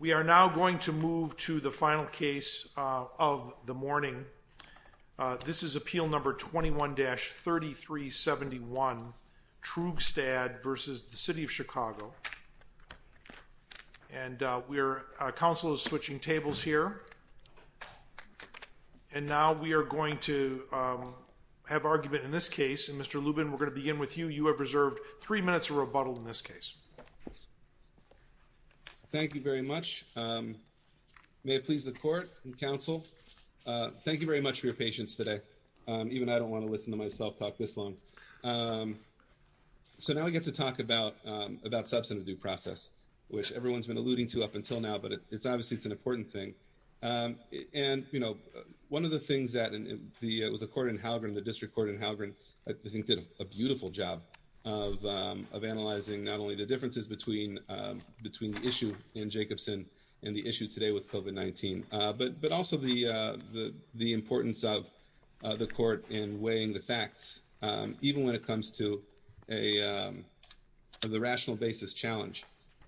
We are now going to move to the final case of the morning. This is Appeal No. 21-3371, Troogstad v. City of Chicago. And Council is switching tables here. And now we are going to have argument in this case, and Mr. Lubin, we're going to begin with you. You have reserved three minutes of rebuttal in this case. Thank you very much. May it please the Court and Council, thank you very much for your patience today. Even I don't want to listen to myself talk this long. So now we get to talk about substantive due process, which everyone's been alluding to up until now, but obviously it's an important thing. And one of the things that the Court in Halgren, the District Court in Halgren, I think did a beautiful job of analyzing not only the differences between the issue in Jacobson and the issue today with COVID-19, but also the importance of the Court in weighing the facts, even when it comes to the rational basis challenge.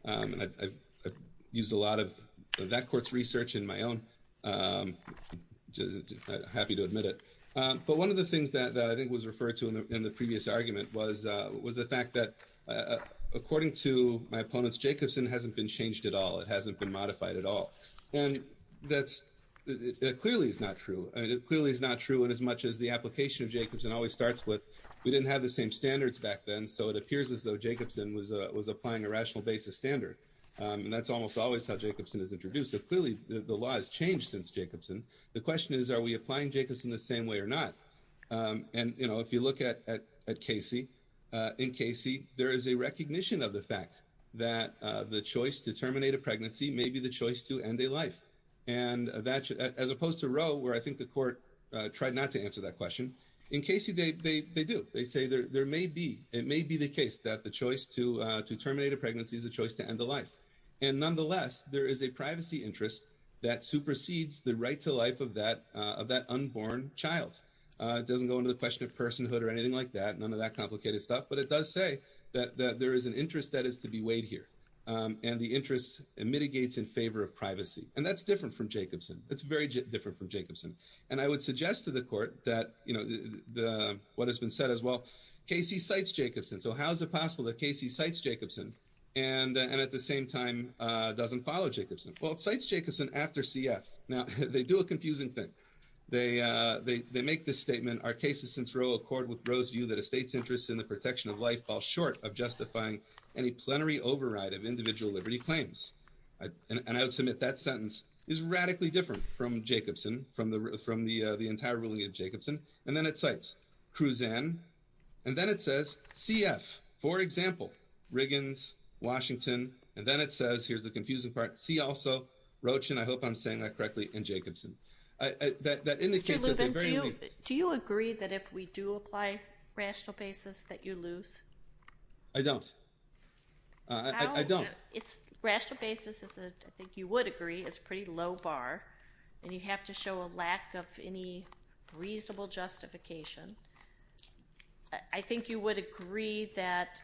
I've used a lot of that Court's research in my own, I'm happy to admit it, but one of the things that I think was referred to in the previous argument was the fact that, according to my opponents, Jacobson hasn't been changed at all, it hasn't been modified at all. And that clearly is not true, it clearly is not true in as much as the application of Jacobson always starts with, we didn't have the same standards back then, so it appears as though Jacobson was applying a rational basis standard, and that's almost always how Jacobson is introduced. So clearly the law has changed since Jacobson. The question is, are we applying Jacobson the same way or not? And if you look at Casey, in Casey there is a recognition of the fact that the choice to terminate a pregnancy may be the choice to end a life, as opposed to Roe, where I think the Court tried not to answer that question, in Casey they do, they say it may be the case that the choice to terminate a pregnancy is the choice to end a life. And nonetheless, there is a privacy interest that supersedes the right to life of that unborn child. It doesn't go into the question of personhood or anything like that, none of that complicated stuff, but it does say that there is an interest that is to be weighed here, and the interest mitigates in favor of privacy. And that's different from Jacobson, it's very different from Jacobson. And I would suggest to the Court that, what has been said as well, Casey cites Jacobson, so how is it possible that Casey cites Jacobson, and at the same time doesn't follow Jacobson? Well, it cites Jacobson after CF, now they do a confusing thing, they make this statement, our cases since Roe accord with Roe's view that a state's interest in the protection of life falls short of justifying any plenary override of individual liberty claims. And I would submit that sentence is radically different from Jacobson, from the entire ruling of Jacobson. And then it cites Cruzan, and then it says CF, for example, Riggins, Washington, and then it says, here's the confusing part, see also Rochin, I hope I'm saying that correctly, and Jacobson. That indicates that they're very... Mr. Lubin, do you agree that if we do apply rational basis that you lose? I don't. I don't. How? Rational basis is, I think you would agree, is a pretty low bar, and you have to show a lack of any reasonable justification. I think you would agree that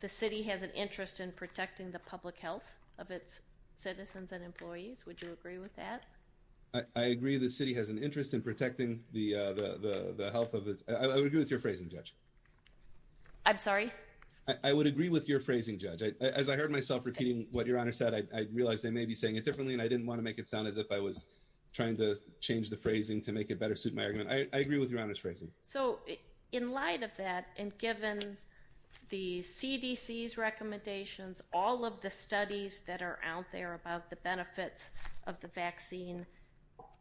the city has an interest in protecting the public health of its citizens and employees, would you agree with that? I agree the city has an interest in protecting the health of its... I would agree with your phrasing, Judge. I'm sorry? I would agree with your phrasing, Judge. As I heard myself repeating what Your Honor said, I realized I may be saying it differently and I didn't want to make it sound as if I was trying to change the phrasing to make it better suit my argument. I agree with Your Honor's phrasing. So in light of that, and given the CDC's recommendations, all of the studies that are out there about the benefits of the vaccine,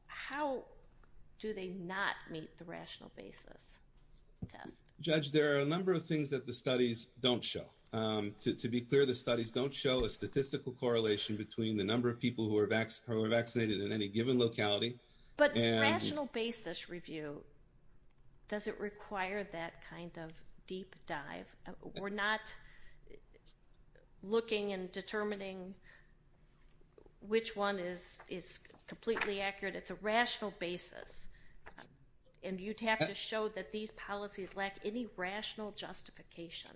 how do they not meet the rational basis test? Judge, there are a number of things that the studies don't show. To be clear, the studies don't show a statistical correlation between the number of people who are vaccinated in any given locality and... But rational basis review, does it require that kind of deep dive? We're not looking and determining which one is completely accurate, it's a rational basis. And you'd have to show that these policies lack any rational justification.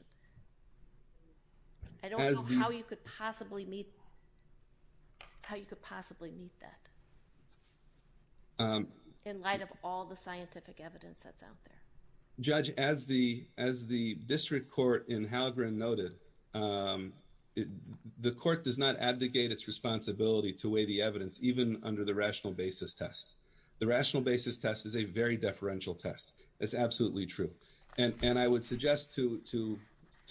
I don't know how you could possibly meet, how you could possibly meet that in light of all the scientific evidence that's out there. Judge, as the, as the district court in Halgren noted, the court does not abdicate its responsibility to weigh the evidence even under the rational basis test. The rational basis test is a very deferential test, it's absolutely true. And I would suggest to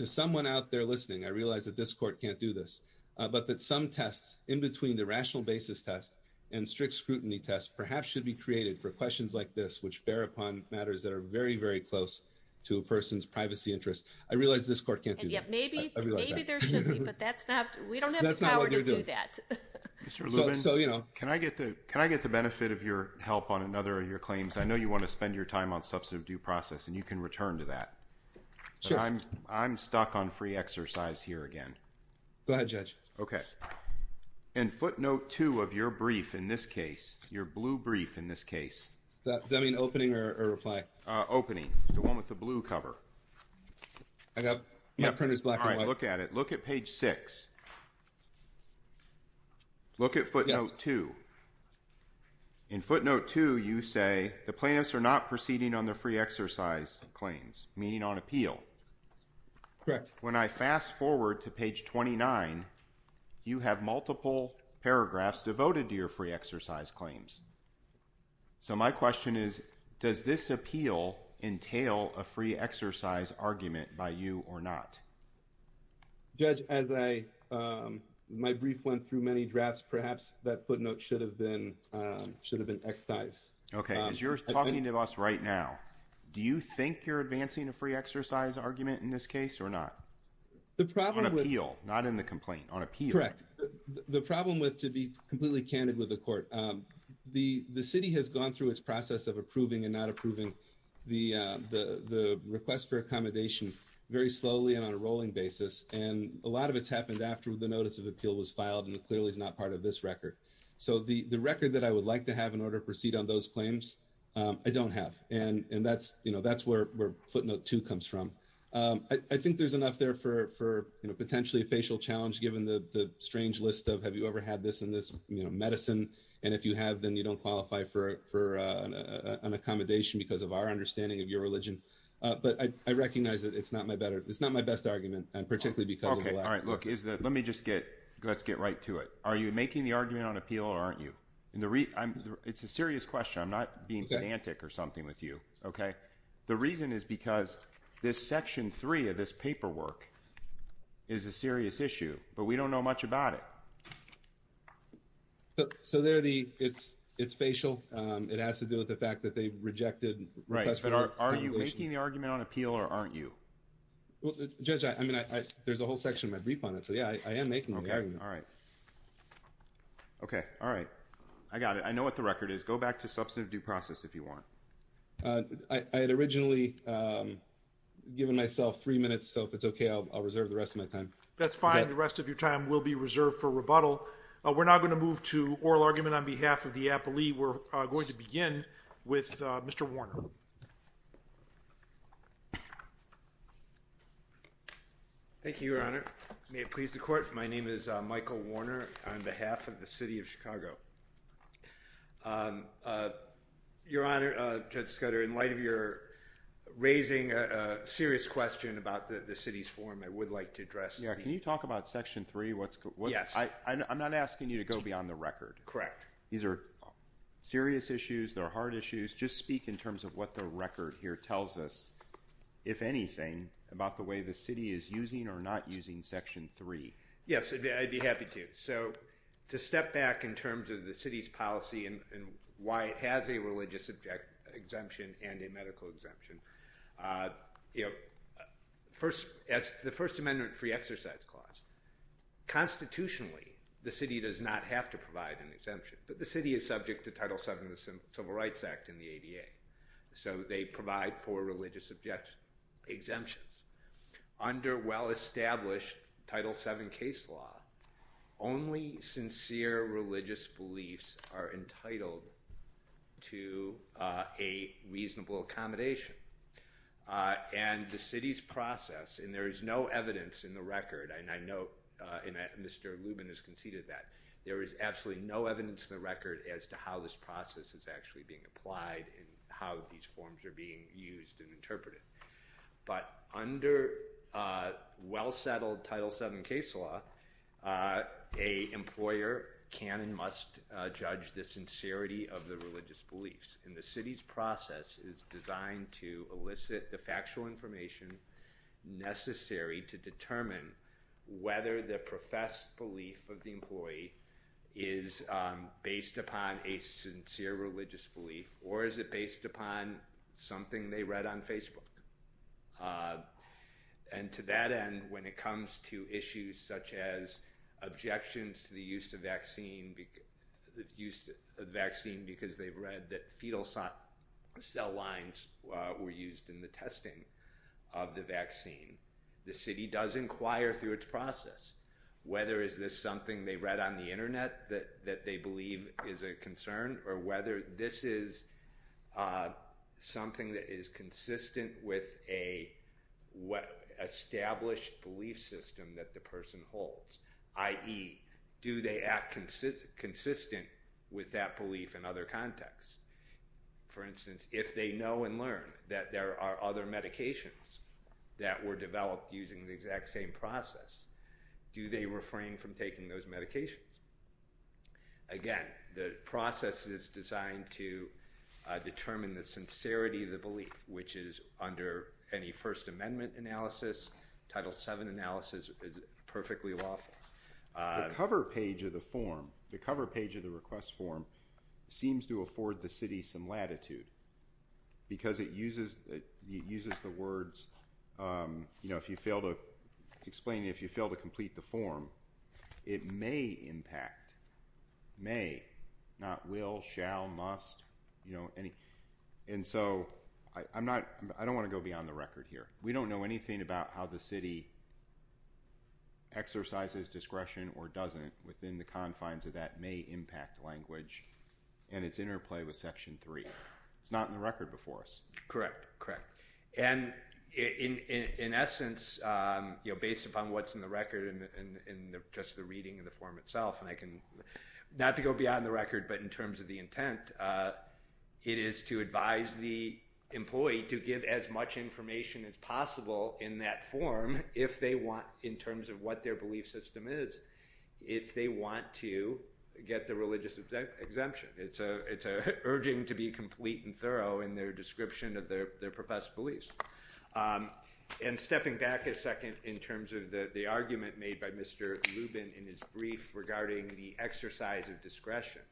someone out there listening, I realize that this court can't do this, but that some tests in between the rational basis test and strict scrutiny test perhaps should be created for questions like this, which bear upon matters that are very, very close to a person's privacy interests. I realize this court can't do that. And yet maybe, maybe there should be, but that's not, we don't have the power to do that. Mr. Lubin, can I get the benefit of your help on another of your claims? I know you want to spend your time on substantive due process and you can return to that. Sure. But I'm, I'm stuck on free exercise here again. Go ahead, Judge. Okay. In footnote two of your brief in this case, your blue brief in this case. Does that mean opening or reply? Opening. The one with the blue cover. I got, my printer's black and white. All right, look at it. Look at page six. Look at footnote two. In footnote two, you say the plaintiffs are not proceeding on their free exercise claims, meaning on appeal. Correct. When I fast forward to page 29, you have multiple paragraphs devoted to your free exercise claims. So my question is, does this appeal entail a free exercise argument by you or not? Judge, as I, my brief went through many drafts, perhaps that footnote should have been, should have been excised. Okay. As you're talking to us right now, do you think you're advancing a free exercise argument in this case or not? The problem with... On appeal, not in the complaint. On appeal. Correct. The problem with, to be completely candid with the court, the city has gone through its process of approving and not approving the request for accommodation very slowly and on a rolling basis. And a lot of it's happened after the notice of appeal was filed and clearly is not part of this record. So the record that I would like to have in order to proceed on those claims, I don't have. And that's, you know, that's where footnote two comes from. I think there's enough there for, you know, potentially a facial challenge given the strange list of, have you ever had this in this, you know, medicine? And if you have, then you don't qualify for an accommodation because of our understanding of your religion. But I recognize that it's not my better, it's not my best argument and particularly because of the lack of... Okay. All right. Look, is that, let me just get, let's get right to it. Are you making the argument on appeal or aren't you? In the re, I'm, it's a serious question. I'm not being pedantic or something with you. Okay. The reason is because this section three of this paperwork is a serious issue, but we don't know much about it. It has to do with the fact that they rejected request for accommodation. But are you making the argument on appeal or aren't you? Well, judge, I mean, I, I, there's a whole section of my brief on it, so yeah, I am making the argument. Okay. All right. Okay. All right. I got it. I know what the record is. Go back to substantive due process if you want. I had originally given myself three minutes, so if it's okay, I'll, I'll reserve the rest of my time. That's fine. The rest of your time will be reserved for rebuttal. We're not going to move to oral argument on behalf of the appellee. We're going to begin with Mr. Warner. Thank you, your honor. May it please the court. My name is Michael Warner on behalf of the city of Chicago. Your honor, Judge Scudder, in light of your raising a serious question about the city's form, I would like to address. Yeah. Can you talk about section three? What's going on? Yes. I'm not asking you to go beyond the record. Correct. These are serious issues. They're hard issues. Just speak in terms of what the record here tells us, if anything, about the way the city is using or not using section three. Yes. I'd be happy to. So to step back in terms of the city's policy and why it has a religious exemption and a medical exemption, you know, first, as the first amendment free exercise clause, constitutionally, the city does not have to provide an exemption. But the city is subject to Title VII of the Civil Rights Act and the ADA. So they provide for religious exemptions. Under well-established Title VII case law, only sincere religious beliefs are entitled to a reasonable accommodation. And the city's process, and there is no evidence in the record, and I know Mr. Lubin has conceded that, there is absolutely no evidence in the record as to how this process is actually being applied and how these forms are being used and interpreted. But under well-settled Title VII case law, a employer can and must judge the sincerity of the religious beliefs. And the city's process is designed to elicit the factual information necessary to determine whether the professed belief of the employee is based upon a sincere religious belief or is it based upon something they read on Facebook. And to that end, when it comes to issues such as objections to the use of vaccine because they've read that fetal cell lines were used in the testing of the vaccine, the city does inquire through its process whether is this something they read on the internet that they believe is a concern or whether this is something that is consistent with an established belief system that the person holds, i.e., do they act consistent with that belief in other contexts. For instance, if they know and learn that there are other medications that were developed using the exact same process, do they refrain from taking those medications? Again, the process is designed to determine the sincerity of the belief, which is under any First Amendment analysis. Title VII analysis is perfectly lawful. The cover page of the form, the cover page of the request form, seems to afford the city some latitude because it uses the words, you know, if you fail to explain, if you fail to complete the form, it may impact, may, not will, shall, must, you know, any. And so I'm not, I don't want to go beyond the record here. We don't know anything about how the city exercises discretion or doesn't within the It's not in the record before us. Correct, correct. And in essence, you know, based upon what's in the record and just the reading of the form itself, and I can, not to go beyond the record, but in terms of the intent, it is to advise the employee to give as much information as possible in that form if they want, in terms of what their belief system is, if they want to get the religious exemption. It's urging to be complete and thorough in their description of their professed beliefs. And stepping back a second in terms of the argument made by Mr. Lubin in his brief regarding the exercise of discretion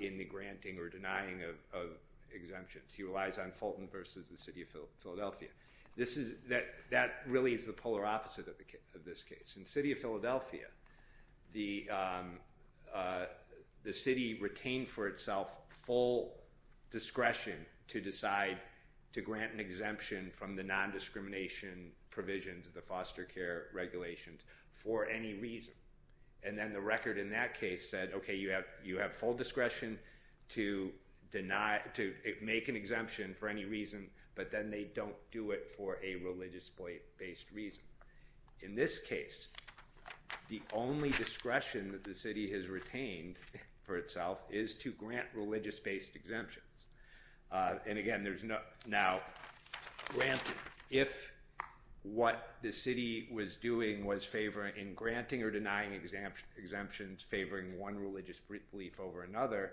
in the granting or denying of exemptions, he relies on Fulton versus the city of Philadelphia. This is, that really is the polar opposite of this case. In the city of Philadelphia, the city retained for itself full discretion to decide to grant an exemption from the non-discrimination provisions, the foster care regulations, for any reason. And then the record in that case said, okay, you have full discretion to deny, to make an exemption for any reason, but then they don't do it for a religious based reason. In this case, the only discretion that the city has retained for itself is to grant religious based exemptions. And again, there's no, now, granted, if what the city was doing was favoring, in granting or denying exemptions, favoring one religious belief over another,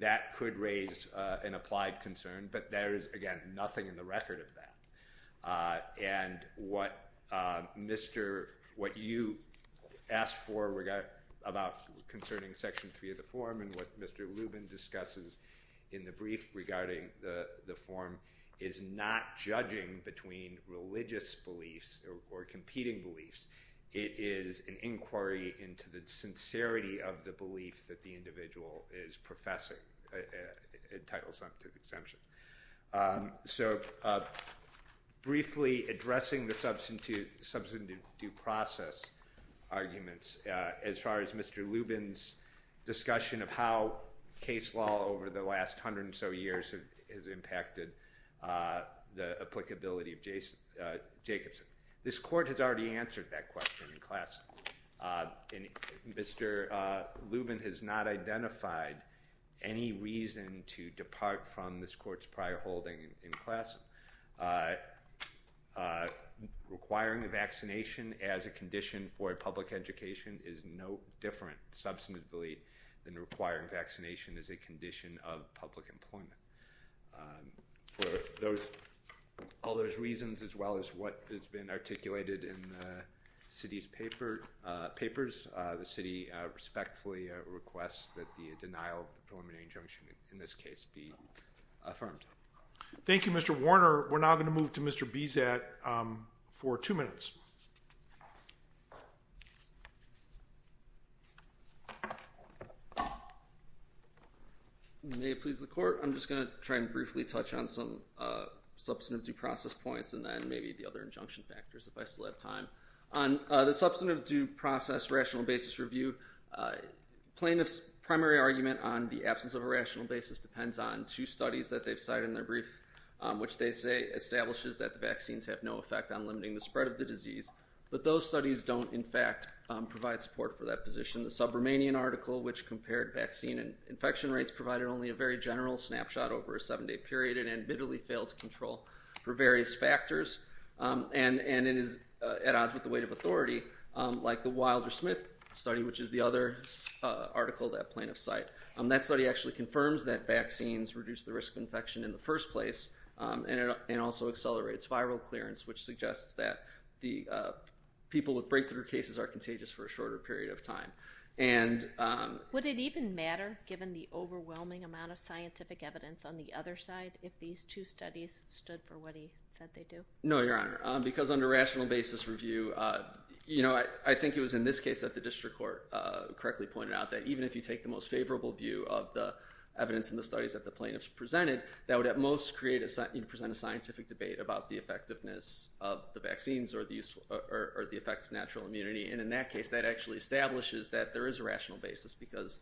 that could raise an applied concern, but there is, again, nothing in the record of that. And what Mr., what you asked for regarding, about concerning section three of the form and what Mr. Rubin discusses in the brief regarding the form is not judging between religious beliefs or competing beliefs, it is an inquiry into the sincerity of the belief that the individual is professing entitled some to the exemption. So, briefly addressing the substitute, substitute due process arguments, as far as Mr. Rubin's discussion of how case law over the last hundred and so years has impacted the applicability of Jacobson. This court has already answered that question in class, and Mr. Rubin has not identified any reason to depart from this court's prior holding in class. Requiring a vaccination as a condition for a public education is no different, substantively, than requiring vaccination as a condition of public employment. For those, all those reasons, as well as what has been articulated in the city's papers, the city respectfully requests that the denial of the preliminary injunction, in this case, be affirmed. Thank you, Mr. Warner. We're now going to move to Mr. Bezat for two minutes. May it please the court, I'm just going to try and briefly touch on some substantive due process points and then maybe the other injunction factors, if I still have time. On the substantive due process rational basis review, plaintiff's primary argument on the absence of a rational basis depends on two studies that they've cited in their brief, which they say establishes that the vaccines have no effect on limiting the spread of the disease, but those studies don't, in fact, provide support for that position. The Sub-Romanian article, which compared vaccine and infection rates, provided only a very general snapshot over a seven-day period and admittedly failed to control for various factors, and it is at odds with the weight of authority, like the Wilder-Smith study, which is the other article that plaintiffs cite. That study actually confirms that vaccines reduce the risk of infection in the first place and also accelerates viral clearance, which suggests that the people with breakthrough cases are contagious for a shorter period of time. Would it even matter, given the overwhelming amount of scientific evidence on the other side, if these two studies stood for what he said they do? No, Your Honor, because under rational basis review, you know, I think it was in this case that the district court correctly pointed out that even if you take the most favorable view of the evidence in the studies that the plaintiffs presented, that would at most create a scientific debate about the effectiveness of the vaccines or the effects of natural immunity, and in that case, that actually establishes that there is a rational basis because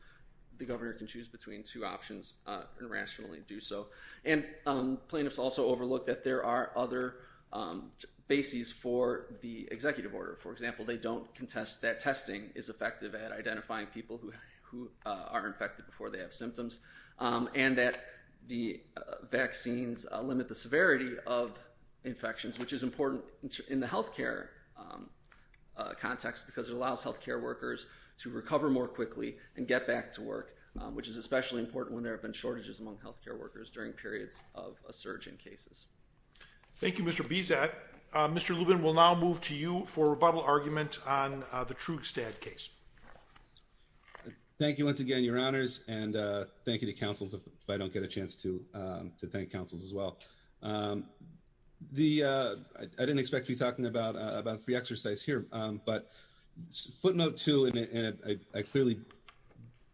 the governor can choose between two options and rationally do so, and plaintiffs also overlooked that there are other bases for the executive order. For example, they don't contest that testing is effective at identifying people who are infected before they have symptoms and that the vaccines limit the severity of infections, which is important in the healthcare context because it allows healthcare workers to recover more quickly and get back to work, which is especially important when there have been a surge in cases. Thank you, Mr. Bezac. Mr. Lubin, we'll now move to you for a rebuttal argument on the Trugstad case. Thank you once again, Your Honors, and thank you to counsels if I don't get a chance to thank counsels as well. I didn't expect to be talking about free exercise here, but footnote two, and I clearly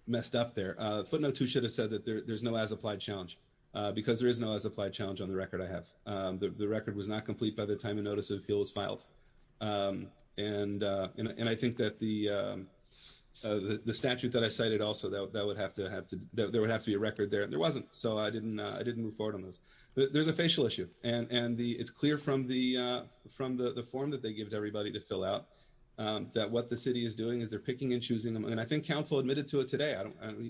messed up there. Footnote two should have said that there's no as-applied challenge because there is no as-applied challenge on the record I have. The record was not complete by the time a notice of appeal was filed, and I think that the statute that I cited also, there would have to be a record there, and there wasn't, so I didn't move forward on those. There's a facial issue, and it's clear from the form that they give to everybody to fill out that what the city is doing is they're picking and choosing them, and I think counsel admitted to it today.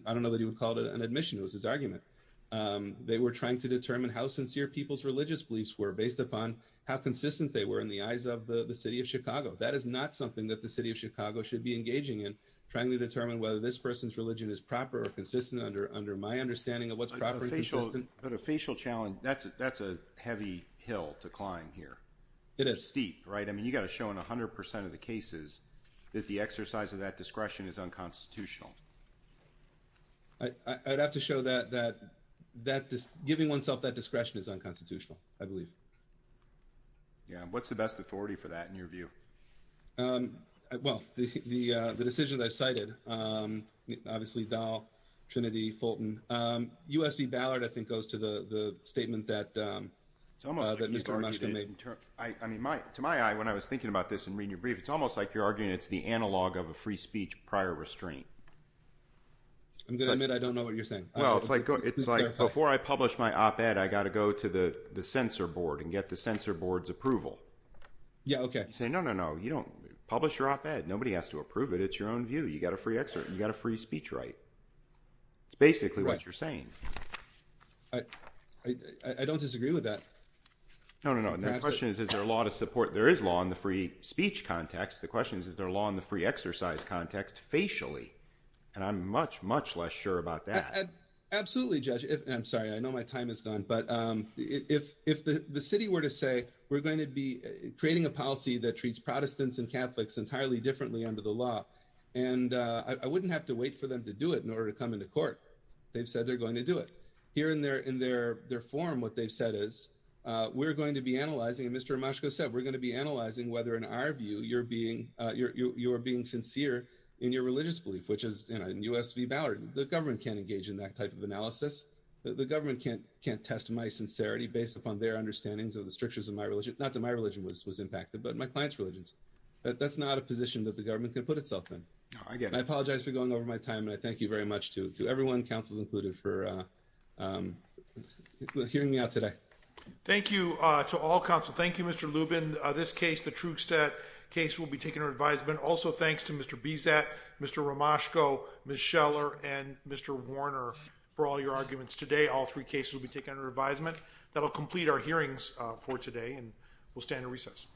I don't know that he would call it an admission, it was his argument. They were trying to determine how sincere people's religious beliefs were based upon how consistent they were in the eyes of the city of Chicago. That is not something that the city of Chicago should be engaging in, trying to determine whether this person's religion is proper or consistent under my understanding of what's proper and consistent. But a facial challenge, that's a heavy hill to climb here. It is. It's steep, right? I mean, you've got to show in 100% of the cases that the exercise of that discretion is unconstitutional. I'd have to show that giving oneself that discretion is unconstitutional, I believe. Yeah, what's the best authority for that, in your view? Well, the decision that I cited, obviously Dow, Trinity, Fulton, U.S. v. Ballard, I think, goes to the statement that Mr. Mushkin made. To my eye, when I was thinking about this and reading your brief, it's almost like you're I'm going to admit I don't know what you're saying. Well, it's like, before I publish my op-ed, I've got to go to the censor board and get the censor board's approval. Yeah, okay. You say, no, no, no, you don't publish your op-ed. Nobody has to approve it. It's your own view. You've got a free speech right. It's basically what you're saying. I don't disagree with that. No, no, no. The question is, is there a law to support? There is law in the free speech context. The question is, is there a law in the free exercise context, facially? And I'm much, much less sure about that. Absolutely, Judge. I'm sorry. I know my time is gone. But if the city were to say, we're going to be creating a policy that treats Protestants and Catholics entirely differently under the law, and I wouldn't have to wait for them to do it in order to come into court. They've said they're going to do it. Here in their forum, what they've said is, we're going to be analyzing, and Mr. Mushkin has said, we're going to be analyzing whether, in our view, you're being sincere in your religious belief, which is in U.S. v. Ballard. The government can't engage in that type of analysis. The government can't test my sincerity based upon their understandings of the strictures of my religion. Not that my religion was impacted, but my client's religions. That's not a position that the government can put itself in. I apologize for going over my time, and I thank you very much to everyone, councils included, for hearing me out today. Thank you to all counsel. Thank you, Mr. Lubin. This case, the Trugstad case, will be taken under advisement. Also, thanks to Mr. Bizet, Mr. Romashko, Ms. Scheller, and Mr. Warner for all your arguments today. All three cases will be taken under advisement. That will complete our hearings for today, and we'll stand at recess.